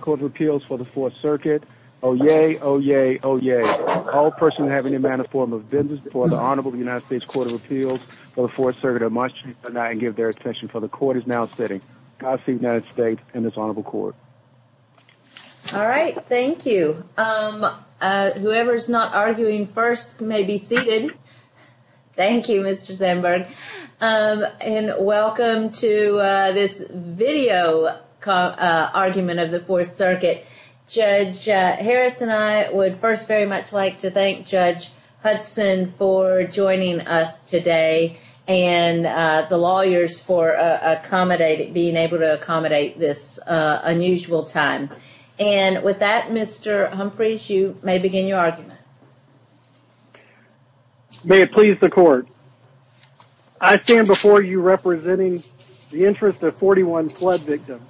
Court of Appeals for the Fourth Circuit of Montreal tonight and give their attention for the court is now sitting. Godspeed United States and this honorable court. All right. Thank you. Whoever is not arguing first may be seated. Thank you, Mr. Sandberg. And welcome to this video argument of the Fourth Circuit. Judge Harris and I would first very much like to thank Judge Hudson for joining us today and the lawyers for accommodating, being able to accommodate this unusual time. And with that, Mr. Humphreys, you may begin your argument. May it please the court. I stand before you representing the interest of 41 flood victims.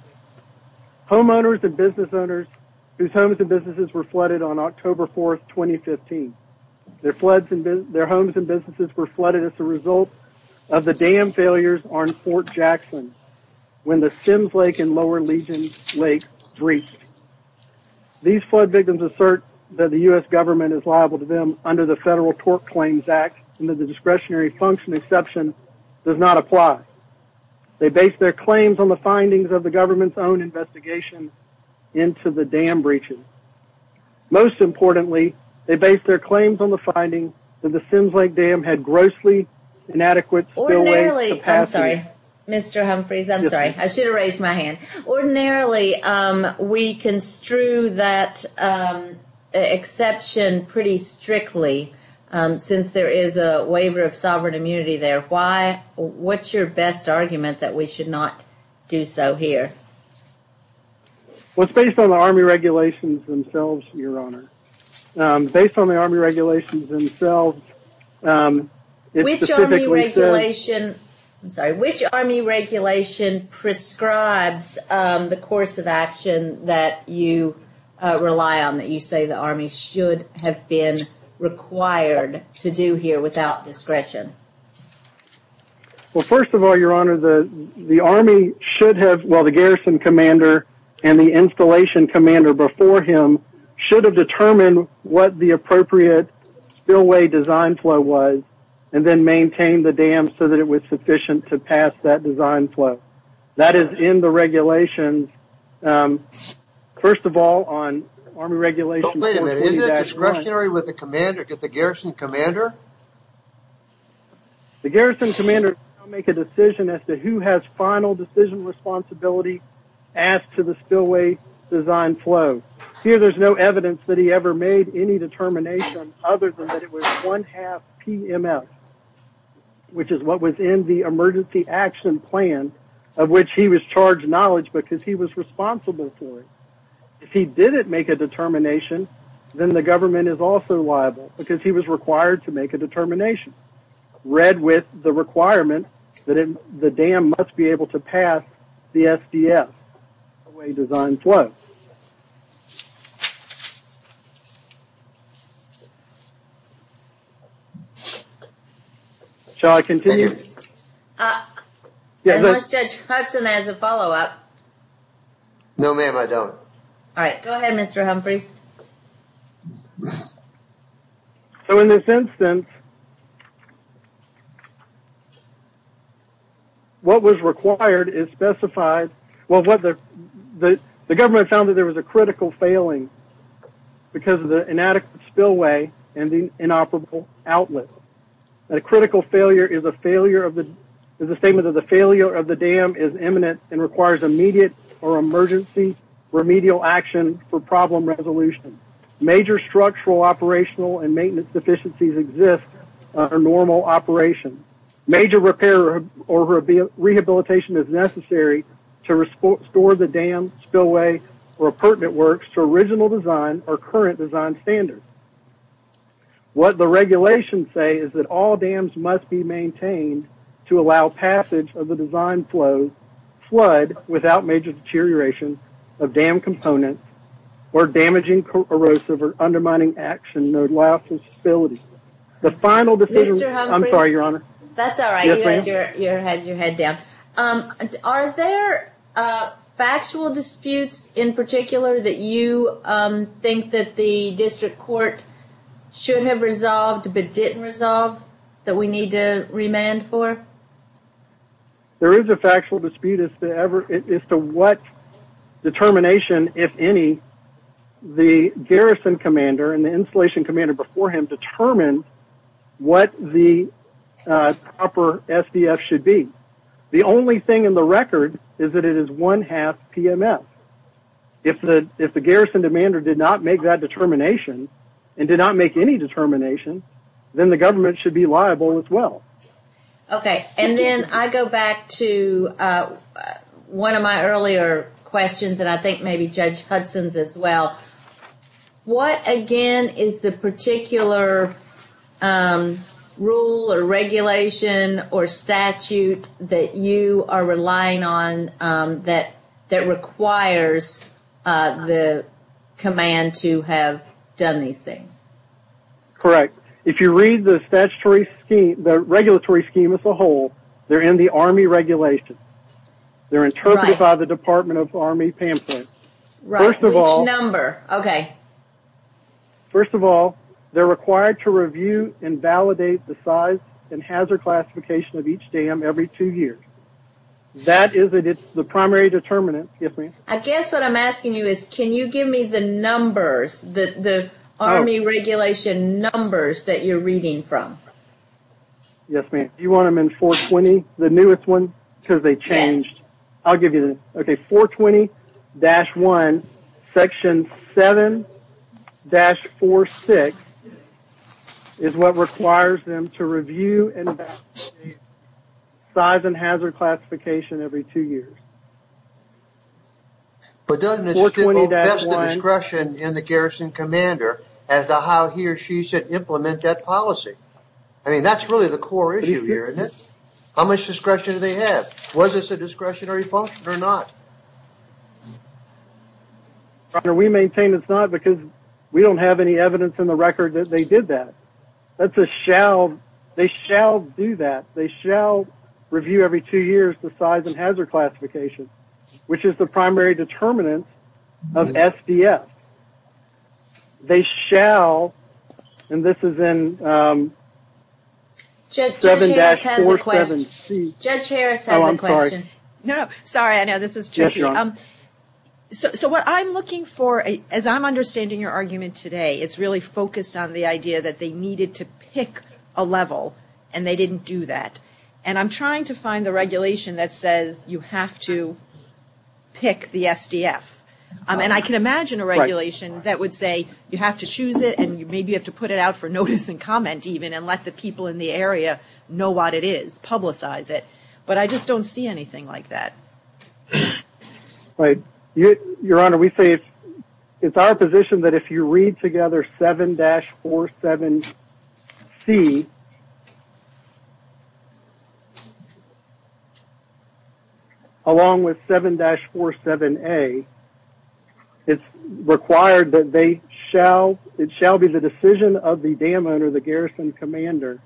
Homeowners and business owners whose homes and businesses were flooded on October 4, 2015. Their homes and businesses were flooded as a result of the dam failures on Fort Jackson when the Sims Lake and Lower Legion Lake breached. These flood victims assert that the U.S. government is liable to them under the Federal Tort Claims Act and that the discretionary function exception does not apply. They base their claims on the findings of the government's own investigation into the dam breaches. Most importantly, they base their claims on the findings that the Sims Lake Dam had grossly inadequate Ordinarily, I'm sorry, Mr. Humphreys, I'm sorry. I should have raised my hand. Ordinarily, we construe that exception pretty strictly since there is a waiver of sovereign immunity there. Why? What's your best argument that we should not do so here? Well, it's based on the Army regulations themselves, Your Honor. Based on the Army regulations themselves, it specifically says... Which Army regulation, I'm sorry, which Army regulation prescribes the course of action that you rely on, that you say the Army should have been required to do here without discretion? Well, first of all, Your Honor, the Army should have... Well, the garrison commander and the installation commander before him should have determined what the appropriate spillway design flow was and then maintained the dam so that it was sufficient to pass that design flow. That is in the regulations. First of all, on Army regulations... Wait a minute. Isn't it discretionary with the commander to get the garrison commander? The garrison commander will make a decision as to who has final decision responsibility as to the spillway design flow. Here, there's no evidence that he ever made any determination other than that it was one-half PMF, which is what was in the emergency action plan of which he was charged knowledge because he was responsible for it. If he didn't make a determination, then the government is also liable because he was required to make a determination, read with the requirement that the dam must be able to pass the SDS away design flow. Shall I continue? Unless Judge Hudson has a follow-up. No, ma'am, I don't. All right. Go ahead, Mr. Humphrey. So, in this instance, what was required is specified... The government found that there was a critical failing because of the inadequate spillway and the inoperable outlet. A critical failure is a statement that the failure of the dam is imminent and requires immediate or emergency remedial action for problem resolution. Major structural, operational, and maintenance deficiencies exist under normal operation. Major repair or rehabilitation is necessary to restore the dam, spillway, or pertinent works to original design or current design standards. What the regulations say is that all dams must be maintained to allow passage of the design flow, flood without major deterioration of dam components, or damaging, corrosive, or undermining action, no loss of stability. The final decision... Mr. Humphrey? I'm sorry, Your Honor. That's all right. You had your head down. Are there factual disputes in particular that you think that the district court should have resolved but didn't resolve that we need to remand for? There is a factual dispute as to what determination, if any, the garrison commander and the installation commander before him determined what the proper SDF should be. The only thing in the record is that it is one-half PMS. If the garrison commander did not make that determination and did not make any determination, then the government should be liable as well. Okay. And then I go back to one of my earlier questions, and I think maybe Judge Hudson's as well. What, again, is the particular rule or regulation or statute that you are relying on that requires the command to have done these things? Correct. If you read the statutory scheme, the regulatory scheme as a whole, they're in the Army regulations. They're interpreted by the Department of the Army pamphlet. Right. Which number? Okay. First of all, they're required to review and validate the size and hazard classification of each dam every two years. That is the primary determinant. I guess what I'm asking you is, can you give me the numbers, the Army regulation numbers that you're reading from? Yes, ma'am. Do you want them in 420, the newest one? Yes. I'll give you them. Okay. 420-1, Section 7-46 is what requires them to review and validate size and hazard classification every two years. But doesn't this put the discretion in the garrison commander as to how he or she should implement that policy? I mean, that's really the core issue here, isn't it? How much discretion do they have? Was this a discretionary function or not? We maintain it's not because we don't have any evidence in the record that they did that. They shall do that. They shall review every two years the size and hazard classification, which is the primary determinant of SDF. They shall, and this is in 7-47C. Judge Harris has a question. Oh, I'm sorry. Sorry, I know this is tricky. So what I'm looking for, as I'm understanding your argument today, it's really focused on the idea that they needed to pick a level and they didn't do that. And I'm trying to find the regulation that says you have to pick the SDF. And I can imagine a regulation that would say you have to choose it and maybe you have to put it out for notice and comment even and let the people in the area know what it is, publicize it. But I just don't see anything like that. Right. Your Honor, we say it's our position that if you read together 7-47C, along with 7-47A, it's required that it shall be the decision of the dam owner, the garrison commander,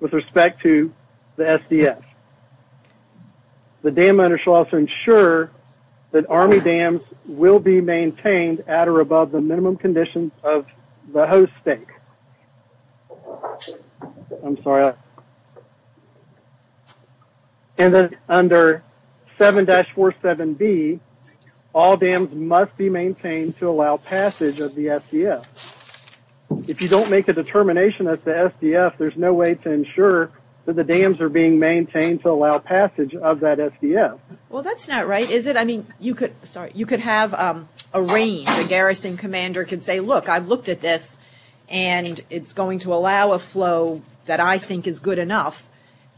with respect to the SDF. The dam owner shall also ensure that Army dams will be maintained at or above the minimum conditions of the host state. I'm sorry. And then under 7-47B, all dams must be maintained to allow passage of the SDF. If you don't make a determination of the SDF, there's no way to ensure that the dams are being maintained to allow passage of that SDF. Well, that's not right, is it? I mean, you could have a rain, the garrison commander could say, look, I've looked at this, and it's going to allow a flow that I think is good enough.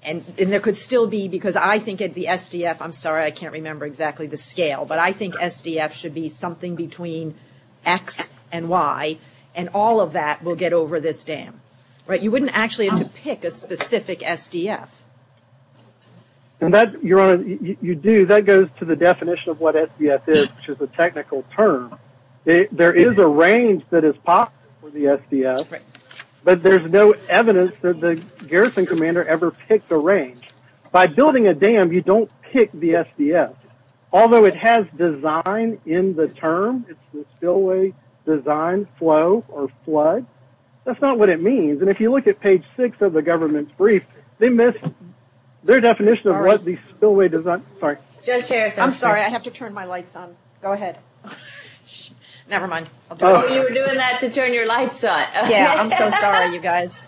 And there could still be, because I think the SDF, I'm sorry, I can't remember exactly the scale, but I think SDF should be something between X and Y, and all of that will get over this dam. You wouldn't actually have to pick a specific SDF. And that, Your Honor, you do, that goes to the definition of what SDF is, which is a technical term. There is a range that is possible for the SDF, but there's no evidence that the garrison commander ever picked a range. By building a dam, you don't pick the SDF. Although it has design in the term, it's the spillway design flow or flood, that's not what it means. And if you look at page 6 of the government's brief, they missed their definition of what the spillway design, sorry. Judge Harris, I'm sorry, I have to turn my lights on. Go ahead. Never mind. Oh, you were doing that to turn your lights on. Yeah, I'm so sorry, you guys.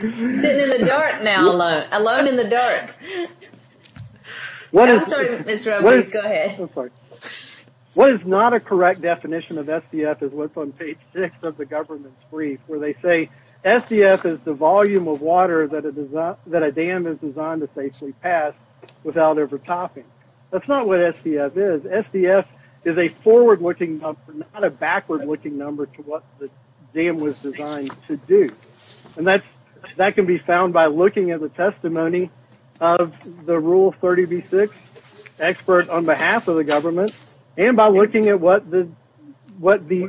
Sitting in the dark now. Alone in the dark. I'm sorry, Ms. Roe, please go ahead. I'm sorry. What is not a correct definition of SDF is what's on page 6 of the government's brief where they say SDF is the volume of water that a dam is designed to safely pass without ever topping. That's not what SDF is. SDF is a forward-looking number, not a backward-looking number to what the dam was designed to do. And that can be found by looking at the testimony of the Rule 30b-6 expert on behalf of the government and by looking at what he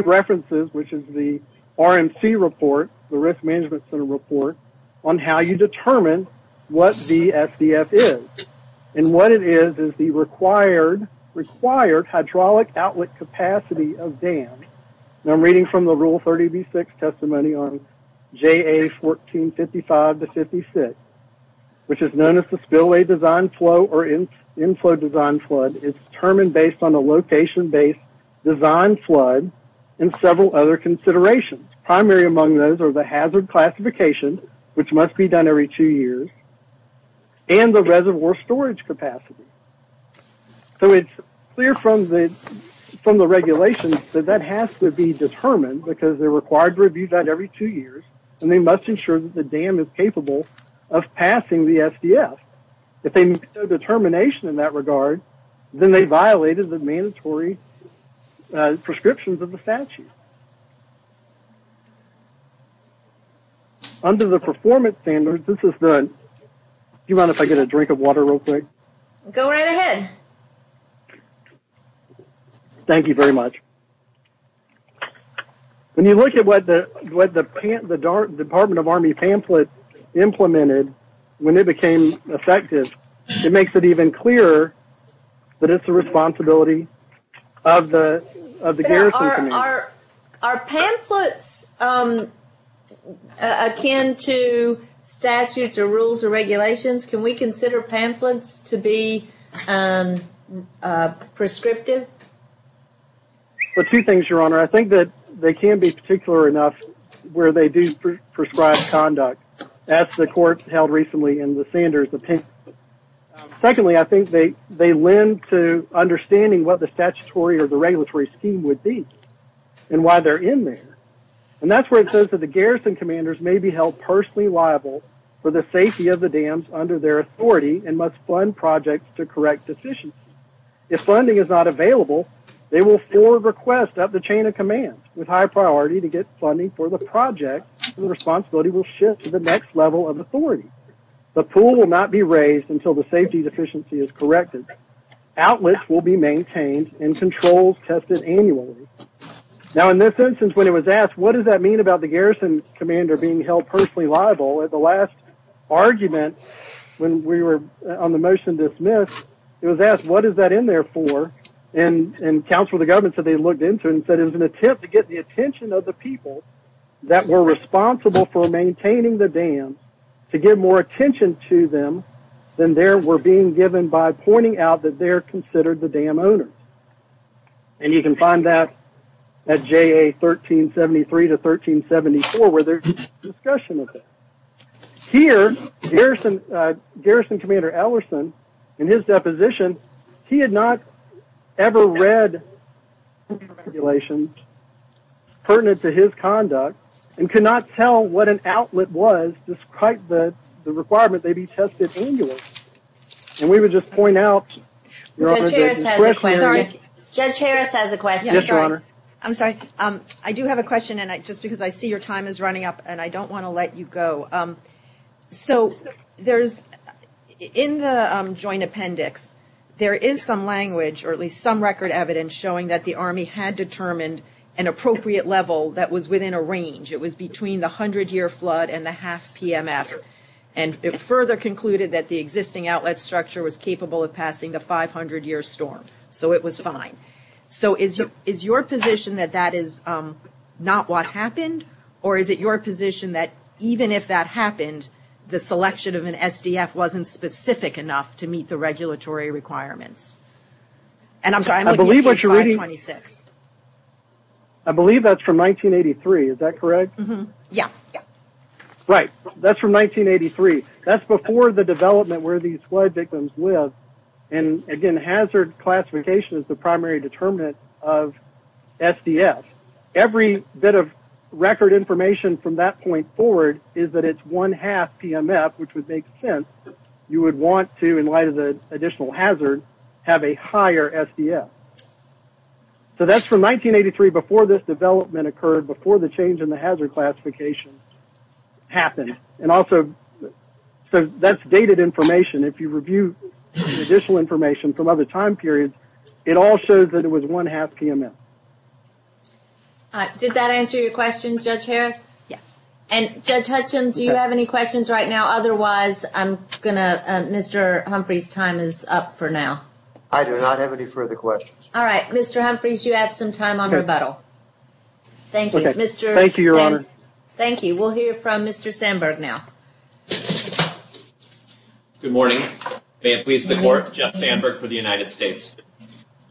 references, which is the RMC report, the Risk Management Center report, on how you determine what the SDF is. And what it is is the required hydraulic outlet capacity of dams. And I'm reading from the Rule 30b-6 testimony on JA 1455-56, which is known as the spillway design flow or inflow design flood. It's determined based on a location-based design flood and several other considerations. Primary among those are the hazard classification, which must be done every two years, and the reservoir storage capacity. So it's clear from the regulations that that has to be determined because they're required to review that every two years, and they must ensure that the dam is capable of passing the SDF. If they make no determination in that regard, then they violated the mandatory prescriptions of the statute. Under the performance standards, this is the... Do you mind if I get a drink of water real quick? Go right ahead. Thank you very much. When you look at what the Department of Army pamphlet implemented when it became effective, it makes it even clearer that it's the responsibility of the Garrison Command. Are pamphlets akin to statutes or rules or regulations? Can we consider pamphlets to be prescriptive? Two things, Your Honor. I think that they can be particular enough where they do prescribe conduct. That's the court held recently in the Sanders. Secondly, I think they lend to understanding what the statutory or the regulatory scheme would be. And why they're in there. And that's where it says that the Garrison Commanders may be held personally liable for the safety of the dams under their authority and must fund projects to correct deficiencies. If funding is not available, they will forward requests up the chain of command with high priority to get funding for the project, and the responsibility will shift to the next level of authority. The pool will not be raised until the safety deficiency is corrected. Outlets will be maintained and controls tested annually. Now in this instance, when it was asked, what does that mean about the Garrison Commander being held personally liable? At the last argument, when we were on the motion dismissed, it was asked, what is that in there for? And counsel of the government said they looked into it and said it was an attempt to get the attention of the people that were responsible for maintaining the dams to give more attention to them than they were being given by pointing out that they're considered the dam owners. And you can find that at JA 1373 to 1374 where there's discussion of that. Here, Garrison Commander Ellerson, in his deposition, he had not ever read regulations pertinent to his conduct and could not tell what an outlet was despite the requirement they be tested annually. And we would just point out, Judge Harris has a question. I'm sorry. I do have a question and just because I see your time is running up and I don't want to let you go. So there's, in the joint appendix, there is some language or at least some record evidence showing that the Army had determined an appropriate level that was within a range. It was between the hundred year flood and the half PMF. And it further concluded that the existing outlet structure was capable of passing the 500 year storm. So it was fine. So is your position that that is not what happened? Or is it your position that even if that happened, the selection of an SDF wasn't specific enough to meet the regulatory requirements? And I'm sorry, I'm looking at page 526. I believe that's from 1983. Is that correct? Yeah. Right. That's from 1983. That's the development where these flood victims live. And again, hazard classification is the primary determinant of SDF. Every bit of record information from that point forward is that it's one half PMF, which would make sense. You would want to, in light of the additional hazard, have a higher SDF. So that's from 1983 before this development occurred, before the change in the hazard classification happened. And also, that's dated information. If you review the additional information from other time periods, it all shows that it was one half PMF. Did that answer your question, Judge Harris? Yes. And Judge Hutchins, do you have any questions right now? Otherwise, Mr. Humphreys' time is up for now. I do not have any further questions. All right. Mr. Humphreys, you have some time on rebuttal. Thank you. Thank you, Your Honor. Thank you. We'll hear from Mr. Sandberg now. Good morning. May it please the Court, Jeff Sandberg for the United States.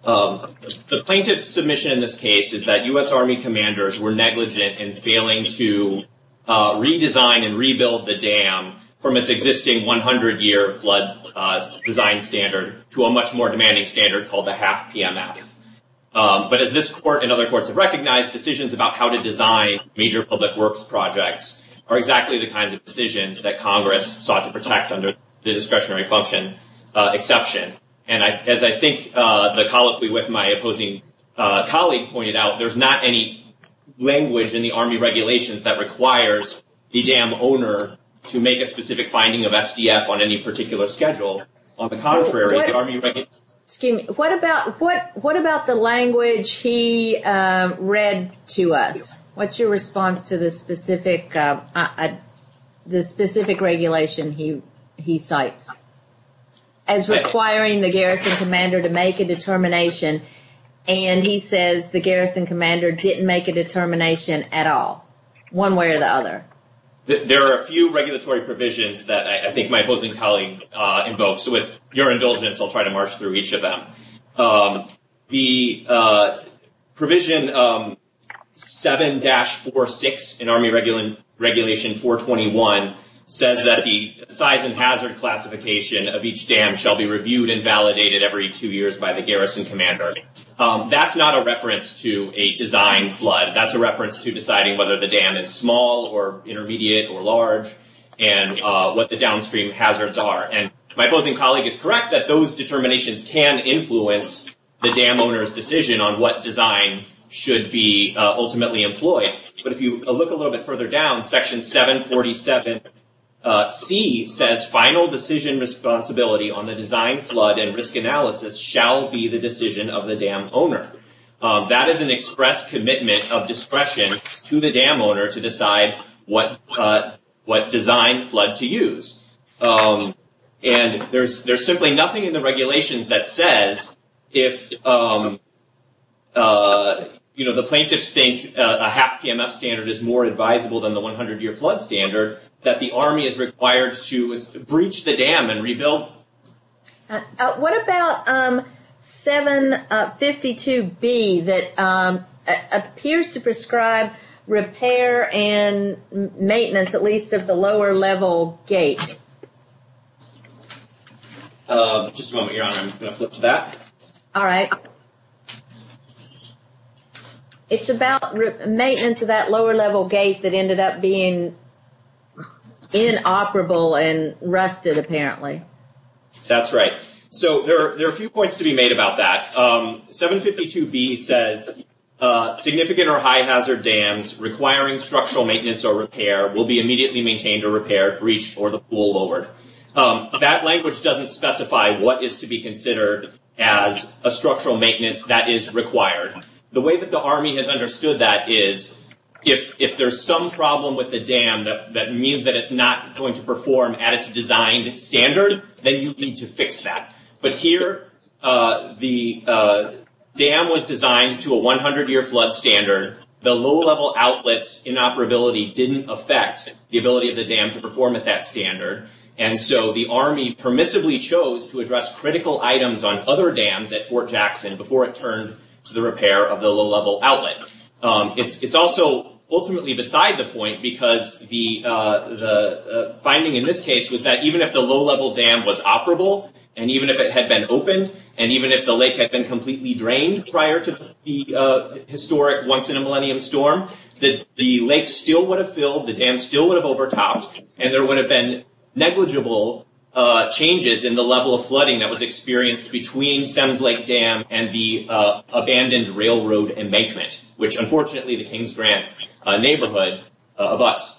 The plaintiff's submission in this case is that U.S. Army commanders were negligent in failing to redesign and rebuild the dam from its existing 100-year flood design standard to a much more demanding standard called the half PMF. But as this Court and other courts have found, the U.S. Army's flood design major public works projects are exactly the kinds of decisions that Congress sought to protect under the discretionary function exception. And as I think the colloquy with my opposing colleague pointed out, there's not any language in the Army regulations that requires the dam owner to make a specific finding of SDF on any particular schedule. On the contrary, what's your response to the specific regulation he cites as requiring the garrison commander to make a determination, and he says the garrison commander didn't make a determination at all, one way or the other? There are a few regulatory provisions that I think my opposing colleague invokes. With your indulgence, I'll try to march through each of them. The provision 7-2, the provision 7-4-6 in Army Regulation 421 says that the size and hazard classification of each dam shall be reviewed and validated every two years by the garrison commander. That's not a reference to a design flood. That's a reference to deciding whether the dam is small or intermediate or large and what the downstream hazards are. And my opposing colleague is correct that those should be reviewed. But if you look a little bit further down, Section 747C says final decision responsibility on the design flood and risk analysis shall be the decision of the dam owner. That is an express commitment of discretion to the dam owner to decide what design flood to use. And there's simply nothing in the regulations that says if the design flood standard is more advisable than the 100-year flood standard that the Army is required to breach the dam and rebuild. What about 752B that appears to prescribe repair and maintenance at least of the lower level gate? Just a moment, Your Honor. I'm going to flip to that. All right. It's about maintenance of that lower level gate that ended up being inoperable and rusted apparently. That's right. So there are a few points to be made about that. 752B says significant or high hazard dams requiring structural maintenance or repair will be immediately maintained or repaired, breached, or the pool lowered. That language doesn't specify what is to be considered as a structural maintenance that is required. The way that the Army has understood that is if there's some problem with the dam that means that it's not going to perform at its designed standard, then you need to fix that. But here, the dam was designed to a 100-year flood standard. The low-level outlets inoperability didn't affect the ability of the dam to perform at that standard. And so the Army permissibly chose to address critical items on other dams at Fort Jackson before it turned to the repair of the low-level outlet. It's also ultimately beside the point because the finding in this case was that even if the low-level dam was operable, and even if it had been opened, and even if the lake had been completely drained prior to the historic once-in-a-millennium storm, the lake still would have filled, the dam still would have overtopped, and there would have been negligible changes in the level of flooding that was experienced between Sems Lake Dam and the abandoned railroad embankment, which, unfortunately, the Kings Grant neighborhood abuts.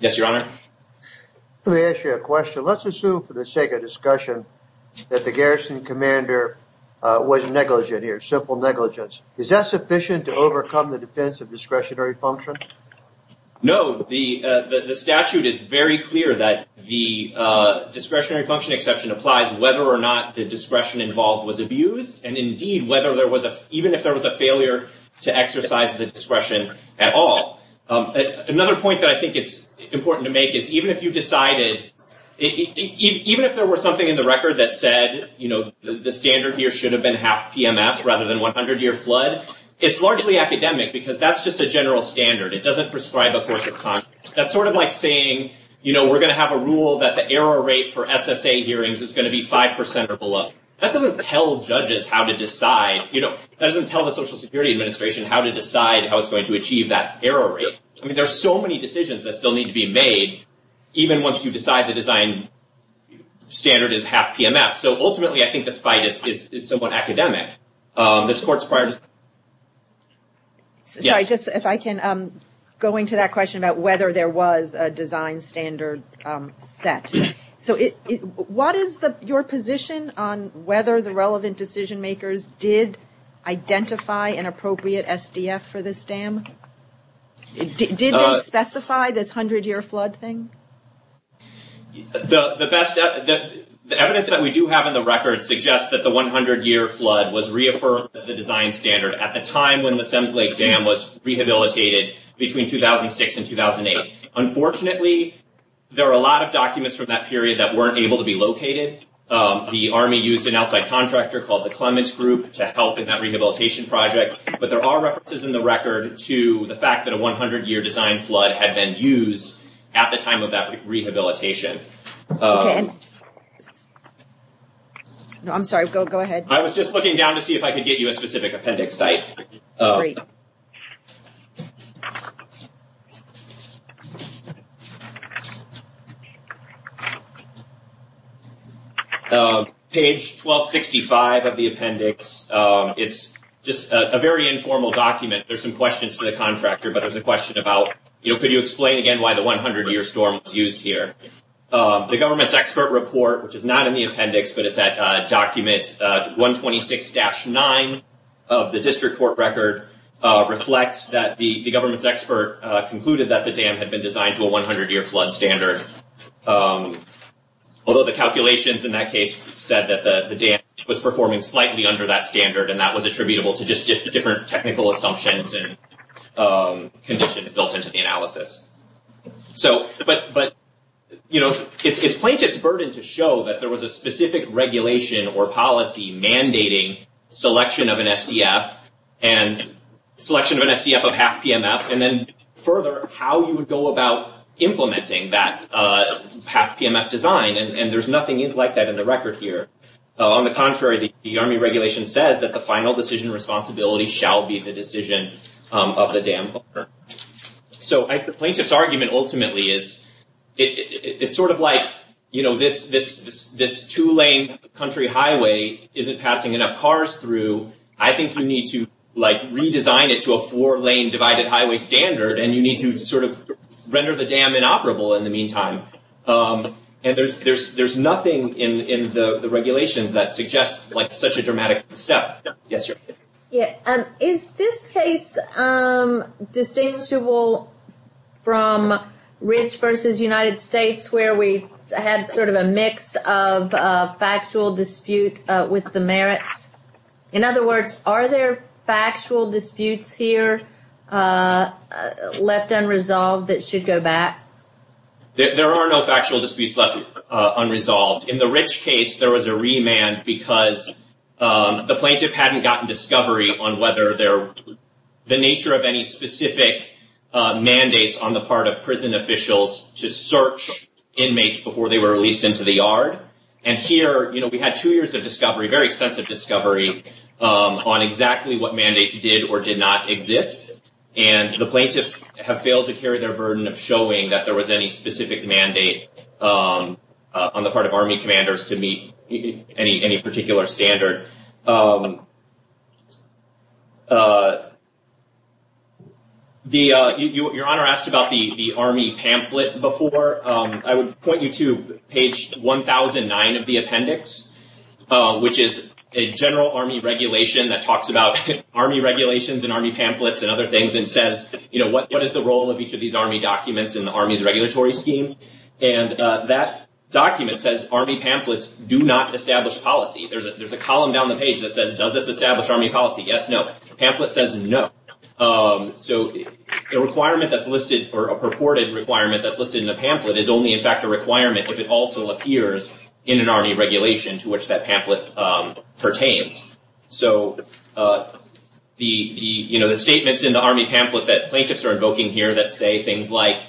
Yes, Your Honor? Let me ask you a question. Let's assume, for the sake of discussion, that the garrison commander was negligent here, simple negligence. Is that sufficient to overcome the defense of discretionary function? No. The statute is very clear that the discretionary function exception applies whether or not the discretion involved was abused, and indeed, even if there was a failure to exercise the discretion at all. Another point that I think it's important to make is even if you decided, even if there were something in the record that said, you know, the standard here should have been half PMF rather than 100-year flood, it's largely academic because that's just a general standard. It doesn't prescribe a course of conduct. That's sort of like saying, you know, we're going to have a rule that the error rate for SSA hearings is going to be 5% or below. That doesn't tell judges how to decide, you know, that doesn't tell the Social Security Administration how to decide how it's going to achieve that error rate. I mean, there are so many decisions that still need to be made even once you decide the design standard is half PMF. So ultimately, I think this fight is somewhat academic. This court's prior... Sorry, just if I can go into that question about whether there was a design standard set. So, what is your position on whether the relevant decision makers did identify an appropriate SDF for this dam? Did they specify this 100-year flood thing? The best... The evidence that we do have in the record suggests that the 100-year flood was reaffirmed as the design standard at the time when the Sims Lake Dam was rehabilitated between 2006 and 2008. Unfortunately, there are a lot of documents from that period that weren't able to be located. The Army used an outside contractor called the Clements Group to help in that rehabilitation project, but there are references in the record to the fact that a 100-year design flood had been used at the time of that rehabilitation. I'm sorry, go ahead. I was just looking down to see if I could get you a specific appendix site. Great. Thank you. Page 1265 of the appendix. It's just a very informal document. There's some questions to the contractor, but there's a question about, you know, could you explain again why the 100-year storm was used here? The government's expert report, which is not in the appendix, but it's at document 126-9 of the district court record, reflects that the government's expert concluded that the dam had been designed to a 100-year flood standard, although the calculations in that case said that the dam was performing slightly under that standard, and that was attributable to just different technical assumptions and conditions built into the analysis. It's plaintiff's burden to show that there was a specific regulation or policy mandating selection of an SDF, and selection of an SDF of half PMF, and then further, how you would go about implementing that half PMF design, and there's nothing like that in the record here. On the contrary, the Army regulation says that the final decision responsibility shall be the decision of the dam owner. The plaintiff's argument ultimately is, it's sort of like, you know, this two-lane country highway isn't passing enough cars through. I think you need to redesign it to a four-lane divided highway standard, and you need to sort of render the dam inoperable in the meantime. And there's nothing in the regulations that suggests such a dramatic step. Yes, sir. Is this case distinguishable from Ridge versus United States, where we had sort of a mix of factual dispute with the merits? In other words, are there factual disputes here left unresolved that should go back? There are no factual disputes left unresolved. In the Ridge case, there was a remand because the plaintiff hadn't gotten discovery on whether the nature of any specific mandates on the part of prison officials to search inmates before they were released into the yard. And here, you know, we had two years of discovery, very extensive discovery, on exactly what mandates did or did not exist. And the plaintiffs have failed to carry their burden of showing that there was any specific mandate on the part of Army commanders to meet any particular standard. Your Honor asked about the Army pamphlet before. I would point you to page 1009 of the appendix, which is a general Army regulation that talks about Army regulations and Army pamphlets and other things and says, you know, what is the role of each of these Army documents in the Army's regulatory scheme? And that document says, Army pamphlets do not establish policy. There's a column down the page that says, does this establish Army policy? Yes, no. Pamphlet says no. So, the requirement that's listed or a purported requirement that's listed in the pamphlet is only in fact a requirement if it also appears in an Army regulation to which that pamphlet pertains. So, the, you know, in the Army pamphlet that plaintiffs are invoking here that say things like,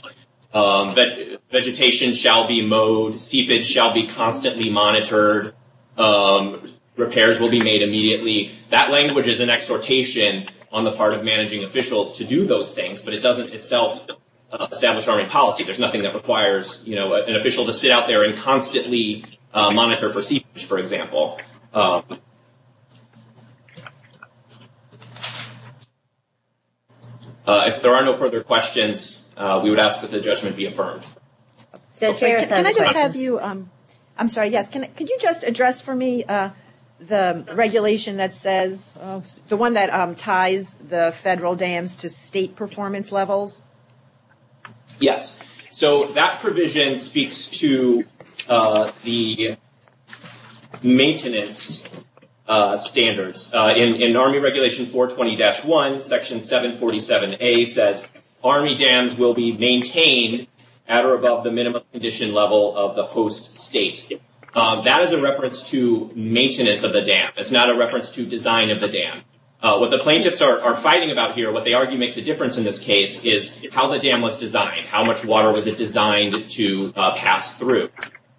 vegetation shall be mowed, seepage shall be constantly monitored, repairs will be made immediately. That language is an exhortation on the part of managing officials to do those things, but it doesn't itself establish Army policy. There's nothing that requires, you know, an official to sit out there and constantly monitor for seepage, for example. If there are no further questions, we would ask that the judgment be affirmed. Can I just have you, I'm sorry, yes, could you just address for me the regulation that says, the one that ties the federal dams to state performance levels? Yes. So that provision speaks to the maintenance standards. In Army Regulation 420-1, Section 747A says, Army dams will be maintained at or above the minimum condition level of the host state. That is a reference to maintenance of the dam. It's not a reference to design of the dam. What the plaintiffs are fighting about here, what they argue makes a difference in this case, is how the dam was designed, how much water was it designed to pass through.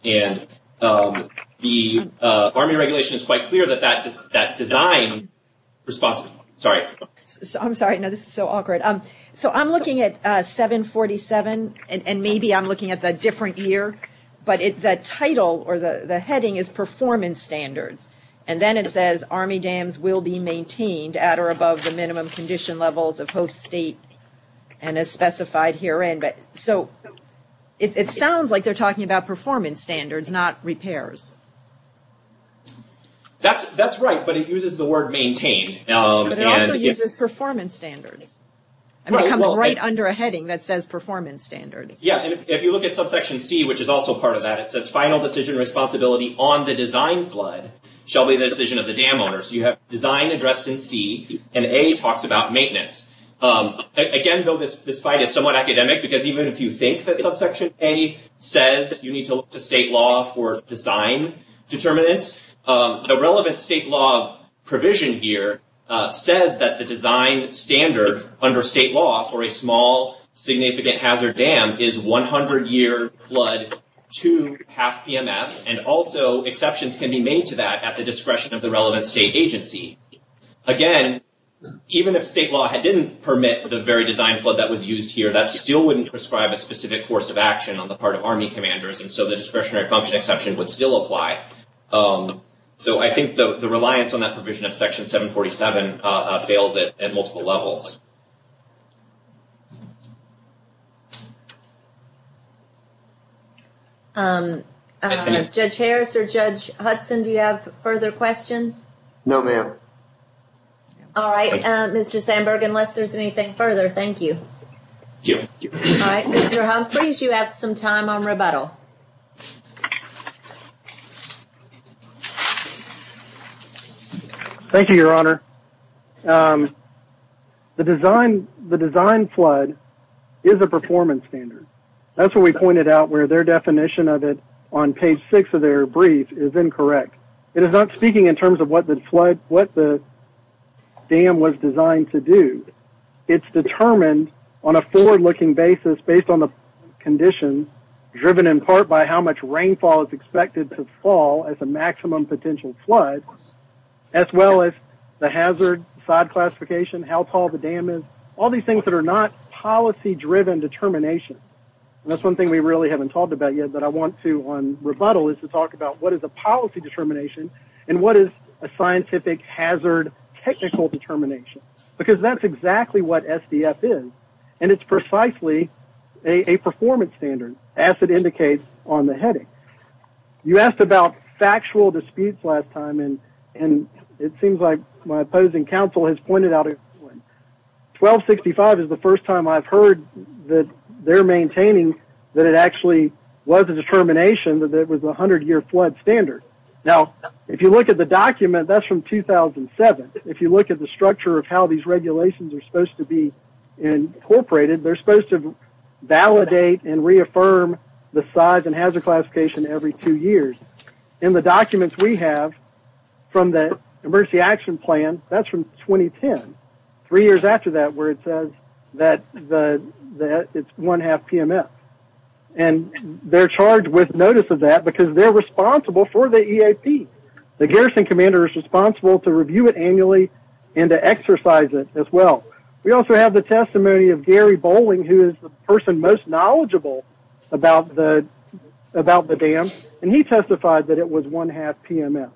And the Army Regulation is quite clear that that design response, sorry. I'm sorry, this is so awkward. So I'm looking at 747 and maybe I'm looking at the different year, but the title or the heading is performance standards. And then it says, Army dams will be maintained at or above the minimum condition levels of host state and as specified herein. So, it sounds like they're talking about performance standards, not repairs. That's right, but it uses the word maintained. But it also uses performance standards. It comes right under a heading that says performance standards. Yeah, if you look at subsection C, which is also part of that, it says, final decision responsibility on the design flood shall be the decision of the dam owner. So you have design addressed in C and A talks about maintenance. Again, though this fight is somewhat academic because even if you think that subsection A says you need to look to state law for design determinants, the relevant state law provision here says that the design standard under state law for a small significant hazard dam is 100 year flood to half PMS and also exceptions can be made to that at the discretion of the relevant state agency. Again, even if state law didn't permit the very design flood that was used here, that still wouldn't prescribe a specific course of action on the part of Army commanders and so the discretionary function exception would still apply. So I think the reliance on that provision of section 747 fails at multiple levels. Judge Harris or Judge Hudson, do you have further questions? No ma'am. Alright, Mr. Sandberg, unless there's anything further, thank you. Alright, Thank you, Your Honor. The question that I was going to ask was about the subsection A and the subsection B. The design flood is a performance standard. That's what we pointed out where their definition of it on page 6 of their brief is incorrect. speaking in terms of what the flood, what the dam was designed to do. It's determined on a forward-looking basis based on the design of the dam. All these things that are not policy-driven determination. That's one thing we haven't talked about yet. I want to talk about what is a policy determination and what is a scientific hazard technical determination. That's exactly what SDF is. It's precisely a performance standard as it indicates on the heading. You asked about factual disputes last time. It seems like my opposing counsel has pointed out 1265 is the first time I've heard that they're maintaining that it was a determination that it was a 100-year flood standard. If you look at the document, that's from 2007. If you look at the structure of how these regulations are supposed to be incorporated, they're supposed to validate and reaffirm the size and hazard classification every two years. In the documents we have from the emergency action plan, that's from 2010. Three years after that where it says that it's one-half PMS. And they're charged with notice of that because they're responsible for the EAP. The garrison commander is responsible to review it annually and to exercise it as well. We also have the testimony of Gary Bowling who is the person most knowledgeable about the dams. And he testified that it was one-half PMS.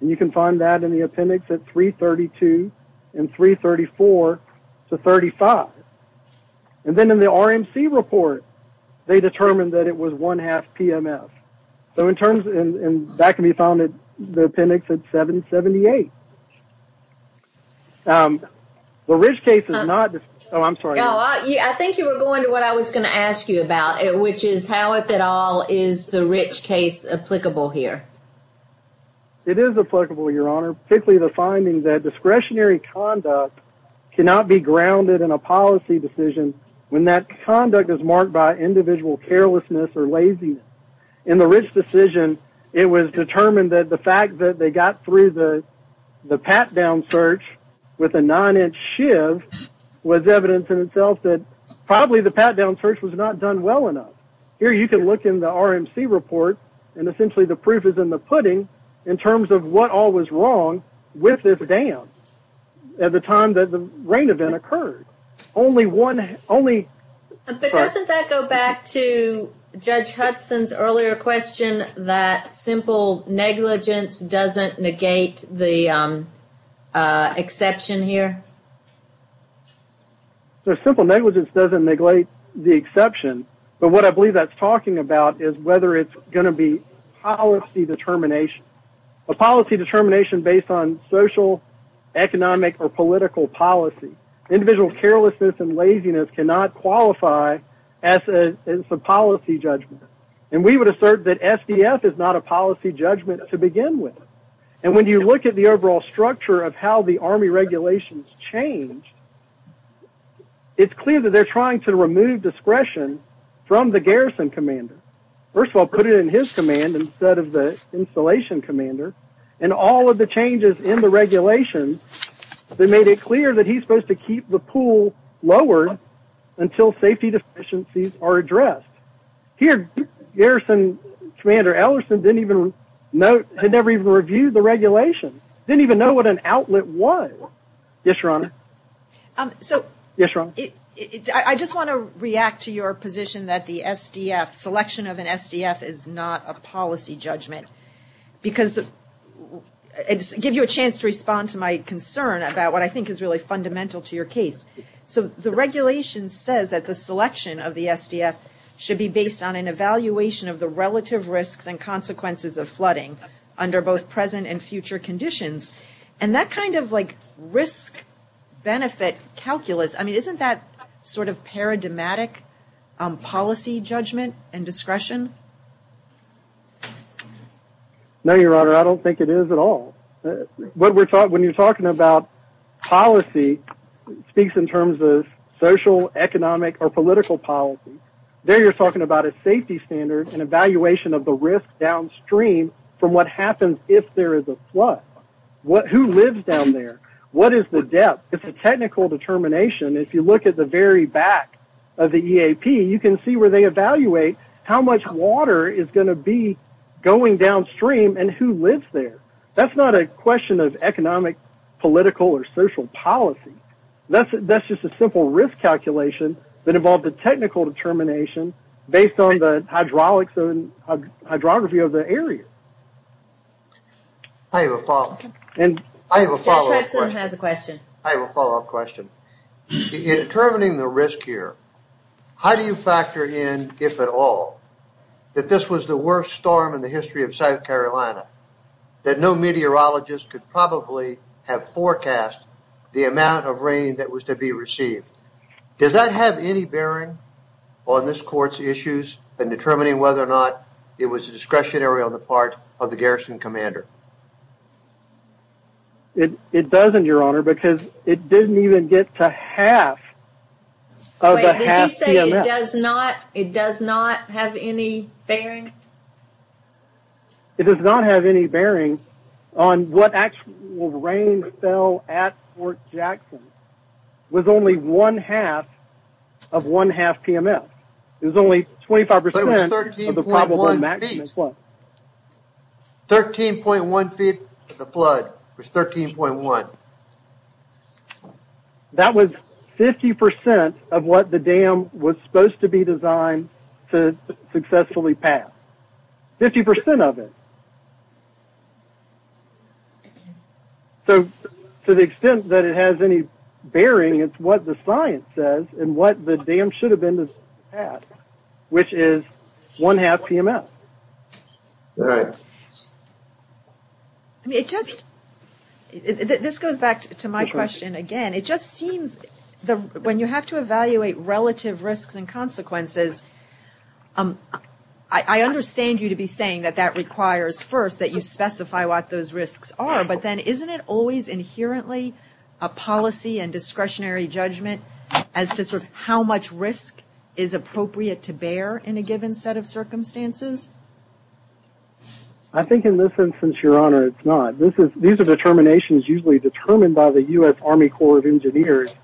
And you can find that in the appendix at 332 and 334 to 35. And then in the RMC report they determined that it was one-half PMS. So in terms of and that can be found in the appendix at 778. The rich case is not oh I'm sorry. I think you were going to what I was going to ask you about which is how if at all is the rich case applicable here? It is applicable your honor. Particularly the finding that discretionary conduct cannot be grounded in a policy decision when that conduct is marked by individual carelessness or laziness. In the case of the RMC report the pat down search was not done well enough. Here you can look in the RMC report and the proof is in the pudding in terms of what all was wrong with this dam at the time that the rain was falling. That is not the exception. What I believe that is talking about is whether it is going to be a policy determination based on social, economic, or political policy. Individual carelessness and laziness cannot qualify as a policy judgment. We would assert that we are trying to remove discretion from the Garrison commander. All of the changes in the regulations made it clear that he is supposed to keep the pool lowered until safety deficiencies are addressed. Garrison commander didn't even know what an outlet was. Yes, your honor. Yes, your honor. I just want to react to your position that the selection of an SDF is not a policy judgment. I will give you a chance to respond to my concern about what I think is fundamental to your case. The regulation says that the selection of the SDF should be based on an evaluation of the relative risks and consequences of flooding under both present and future conditions. Isn't that paradigmatic policy judgment and discretion? No, your honor. I don't think it is at all. When you are talking about policy, it speaks in terms of social, economic, or political policy. There you are talking about a safety standard and evaluation of the risk downstream from what happens if there is a flood. Who lives down there? What is the depth? It is a technical determination. If you look at the back of the EAP, you can see how much water is going to be going downstream and who lives there. That is not a question of economic, political, or social policy. That is a simple risk calculation that involves a technical determination based on the hydrography of the area. I have a follow-up question. In determining the risk here, how do you factor in if at all that this was the case? No meteorologist could probably have forecast the amount of rain that was to be received. Does that have any bearing on this court's issues in determining whether or not it was discretionary on the part of the garrison commander? It doesn't, Your Honor, because it didn't even get to half. It does not have any bearing? It does not have any bearing on what actual rain fell at Fort Jackson with only one-half of one-half PMS. It was only 25% of the probable maximum flood. 13.1 That was 50% of what the dam was supposed to be designed to successfully pass. 50% of it. So to the extent that it has any bearing, it's what the science says and what the dam should have been to pass, which is one-half PMS. All right. I mean, it just this goes back to my question again. It just seems when you have to evaluate relative risks and consequences, I understand you to be saying that that requires first that you specify what those risks are, but then isn't it always inherently a policy and discretionary judgment as to sort of how much risk is appropriate to bear in a given set of circumstances? I think in this instance, Your Honor, it's not. These are determinations usually determined by the U.S. Army Corps of Engineers.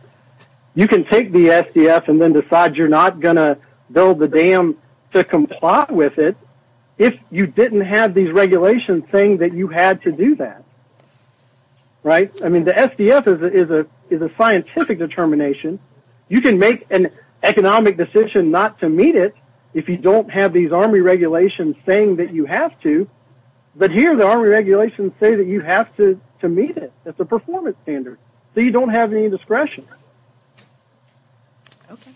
You can take the SDF and then decide you're not going to build the dam to comply with it if you didn't have these regulations saying that you had to do that. Right? I mean, the SDF is a scientific determination. You can make an economic decision not to meet it if you don't have these Army regulations saying that you have to, but here the Army regulations say that you have to meet it. It's a performance standard. So you don't have any discretion. Okay.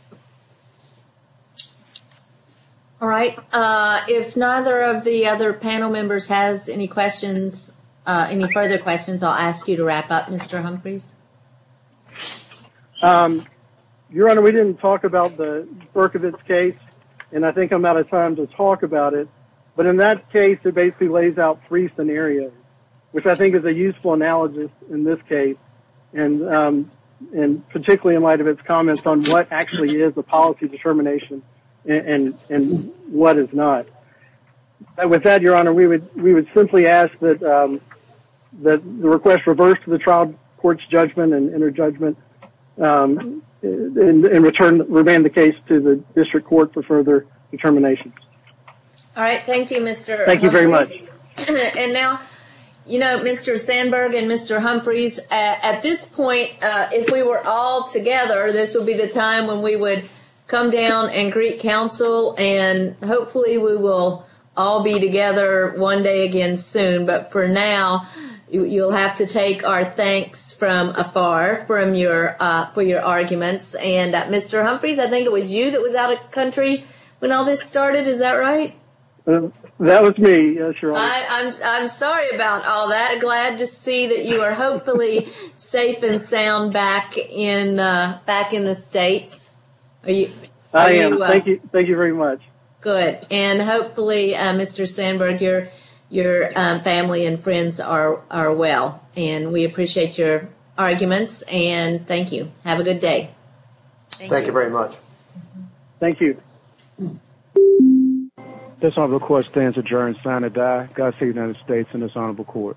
All right. If neither of the other panel members has any questions, any further questions, I'll ask you to wrap up, Mr. Humphreys. Your Honor, we didn't talk about the Berkovitz case, and I think I'm out of time to talk about it, but in that case it basically lays out three scenarios, which I think is a very good scenario, particularly in light of its comments on what actually is a policy determination and what is not. With that, Your Honor, we would simply ask request reversed to the trial court's judgment and returned the case to the district court for further determination. All right. Thank you, Mr. Humphreys. And now, you know, Mr. Mr. Humphreys, at this point, if we were all together, this would be the time when we would come down and greet counsel and hopefully we will all be together one day again soon, but for now you'll have to take our thanks from afar for your arguments. And Mr. Humphreys, I think it was you that was out of country when all this started, is that right? That was me, Your Honor. I'm sorry about all that. I'm glad to see that you are hopefully safe and sound back in the States. I am. Thank you very much. Good. And hopefully, Mr. Sandberg, your family and friends are well and we appreciate your arguments and thank you. Have a good day. Thank you very much. This honorable court stands adjourned, sign of die, God save the United States and this honorable court.